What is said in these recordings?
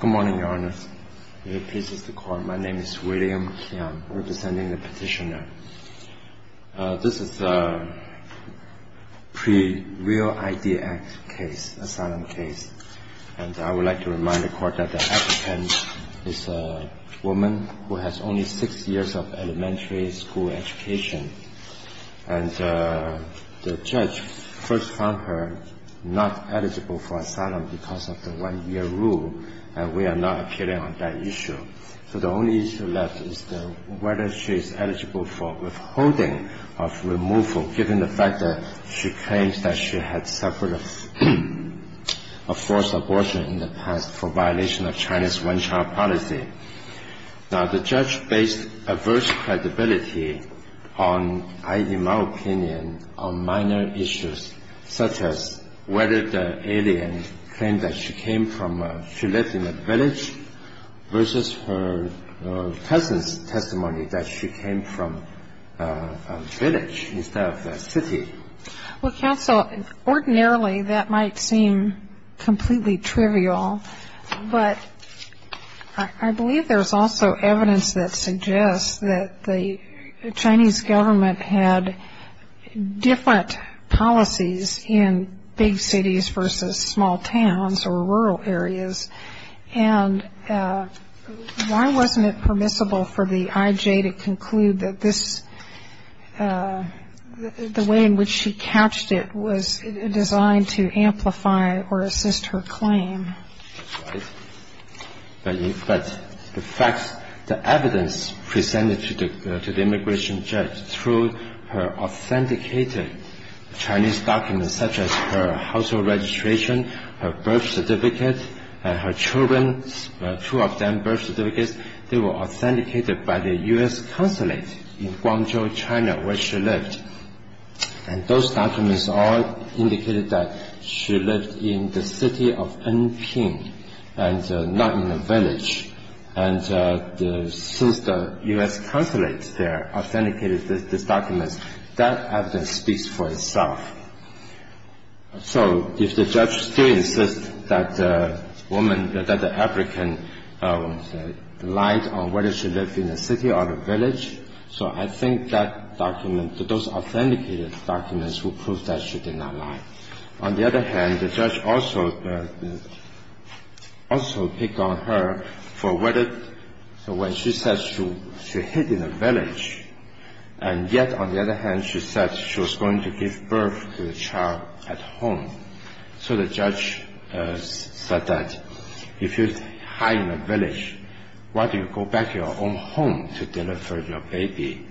Good morning, Your Honor. My name is William Kiang, representing the Petitioner. This is a pre-Real Idea Act case, asylum case. And I would like to remind the Court that the applicant is a woman who has only six years of elementary school education. And the judge first found her not eligible for asylum because of the one-year rule, and we are not appealing on that issue. So the only issue left is whether she is eligible for withholding of removal, given the fact that she claims that she had suffered a forced abortion in the past for violation of Chinese one-child policy. Now, the judge based adverse credibility on, in my opinion, on minor issues, such as whether the alien claimed that she came from a village versus her cousin's testimony that she came from a village instead of a city. Well, counsel, ordinarily that might seem completely trivial, but I believe there's also evidence that suggests that the Chinese government had different policies in big cities versus small towns or rural areas. And why wasn't it permissible for the I.J. to conclude that this the way in which she couched it was designed to amplify or assist her claim? But the facts, the evidence presented to the immigration judge through her authenticated Chinese documents, such as her household registration, her birth certificate, and her children, two of them birth certificates, they were authenticated by the U.S. consulate in Guangzhou, China, where she lived. And those documents all indicated that she lived in the city of Anping and not in a village. And since the U.S. consulate there authenticated these documents, that evidence speaks for itself. So if the judge still insists that the woman, that the African lied on whether she lived in a city or a village, so I think that document, those authenticated documents will prove that she did not lie. On the other hand, the judge also picked on her for whether when she said she hid in a village, and yet on the other hand she said she was going to give birth to the child at home. So the judge said that if you hide in a village, why do you go back to your own home to deliver your baby?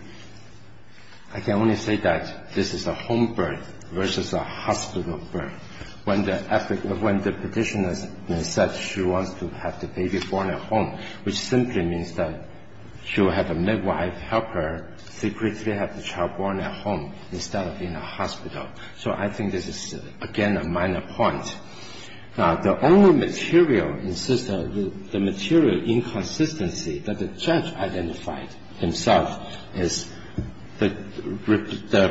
I can only say that this is a home birth versus a hospital birth. When the petitioner said she wants to have the baby born at home, which simply means that she will have a midwife help her secretly have the child born at home instead of in a hospital. So I think this is, again, a minor point. The only material, the material inconsistency that the judge identified himself is the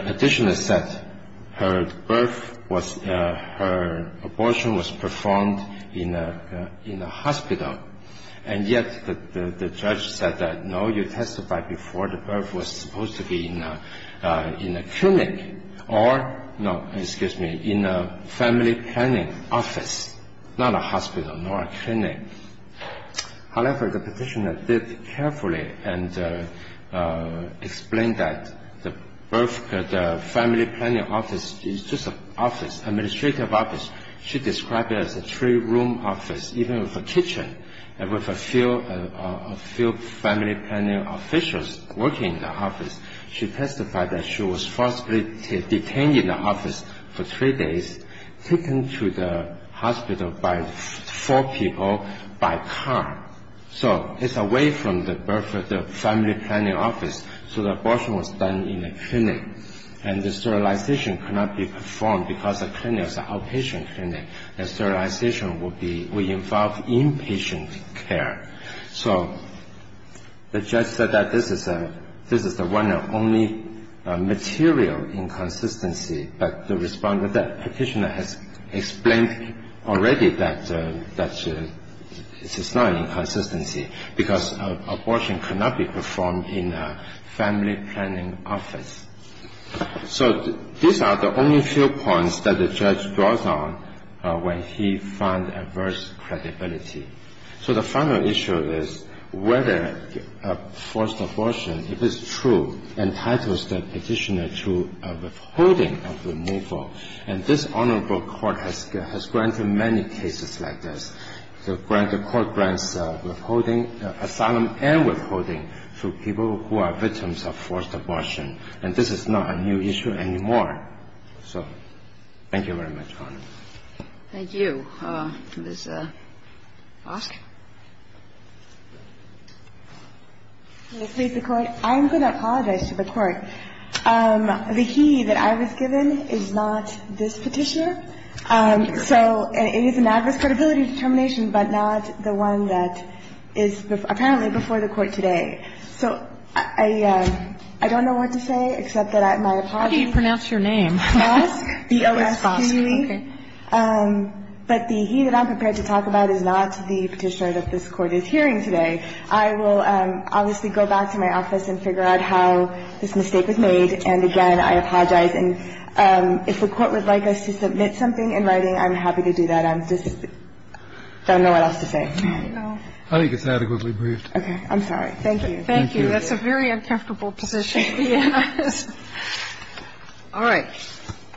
petitioner said her birth was, her abortion was performed in a hospital. And yet the judge said that, no, you testified before the birth was supposed to be in a clinic or, no, excuse me, in a family planning office, not a hospital nor a clinic. However, the petitioner did carefully and explained that the family planning office is just an office, administrative office. She described it as a three-room office, even with a kitchen and with a few family planning officials working in the office. She testified that she was forcibly detained in the office for three days, taken to the hospital by four people by car. So it's away from the birth of the family planning office, so the abortion was done in a clinic. And the sterilization could not be performed because the clinic was an outpatient clinic. The sterilization would involve inpatient care. So the judge said that this is the one and only material inconsistency, but the respondent, the petitioner, has explained already that this is not an inconsistency because abortion could not be performed in a family planning office. So these are the only few points that the judge draws on when he finds adverse credibility. So the final issue is whether forced abortion, if it's true, entitles the petitioner to a withholding of removal. And this honorable court has granted many cases like this. The court grants withholding, asylum and withholding, to people who are victims of forced abortion. And this is not a new issue anymore. So thank you very much, Your Honor. Thank you. Ms. Fosk. Ms. Fosk. I'm going to apologize to the Court. The he that I was given is not this petitioner. So it is an adverse credibility determination, but not the one that is apparently before the Court today. So I don't know what to say, except that my apologies. How do you pronounce your name? Fosk, B-O-S-K. Okay. But the he that I'm prepared to talk about is not the petitioner that this Court is hearing today. I will obviously go back to my office and figure out how this mistake was made. And, again, I apologize. And if the Court would like us to submit something in writing, I'm happy to do that. I just don't know what else to say. I think it's adequately briefed. Okay. I'm sorry. Thank you. Thank you. That's a very uncomfortable position. All right. Thank you.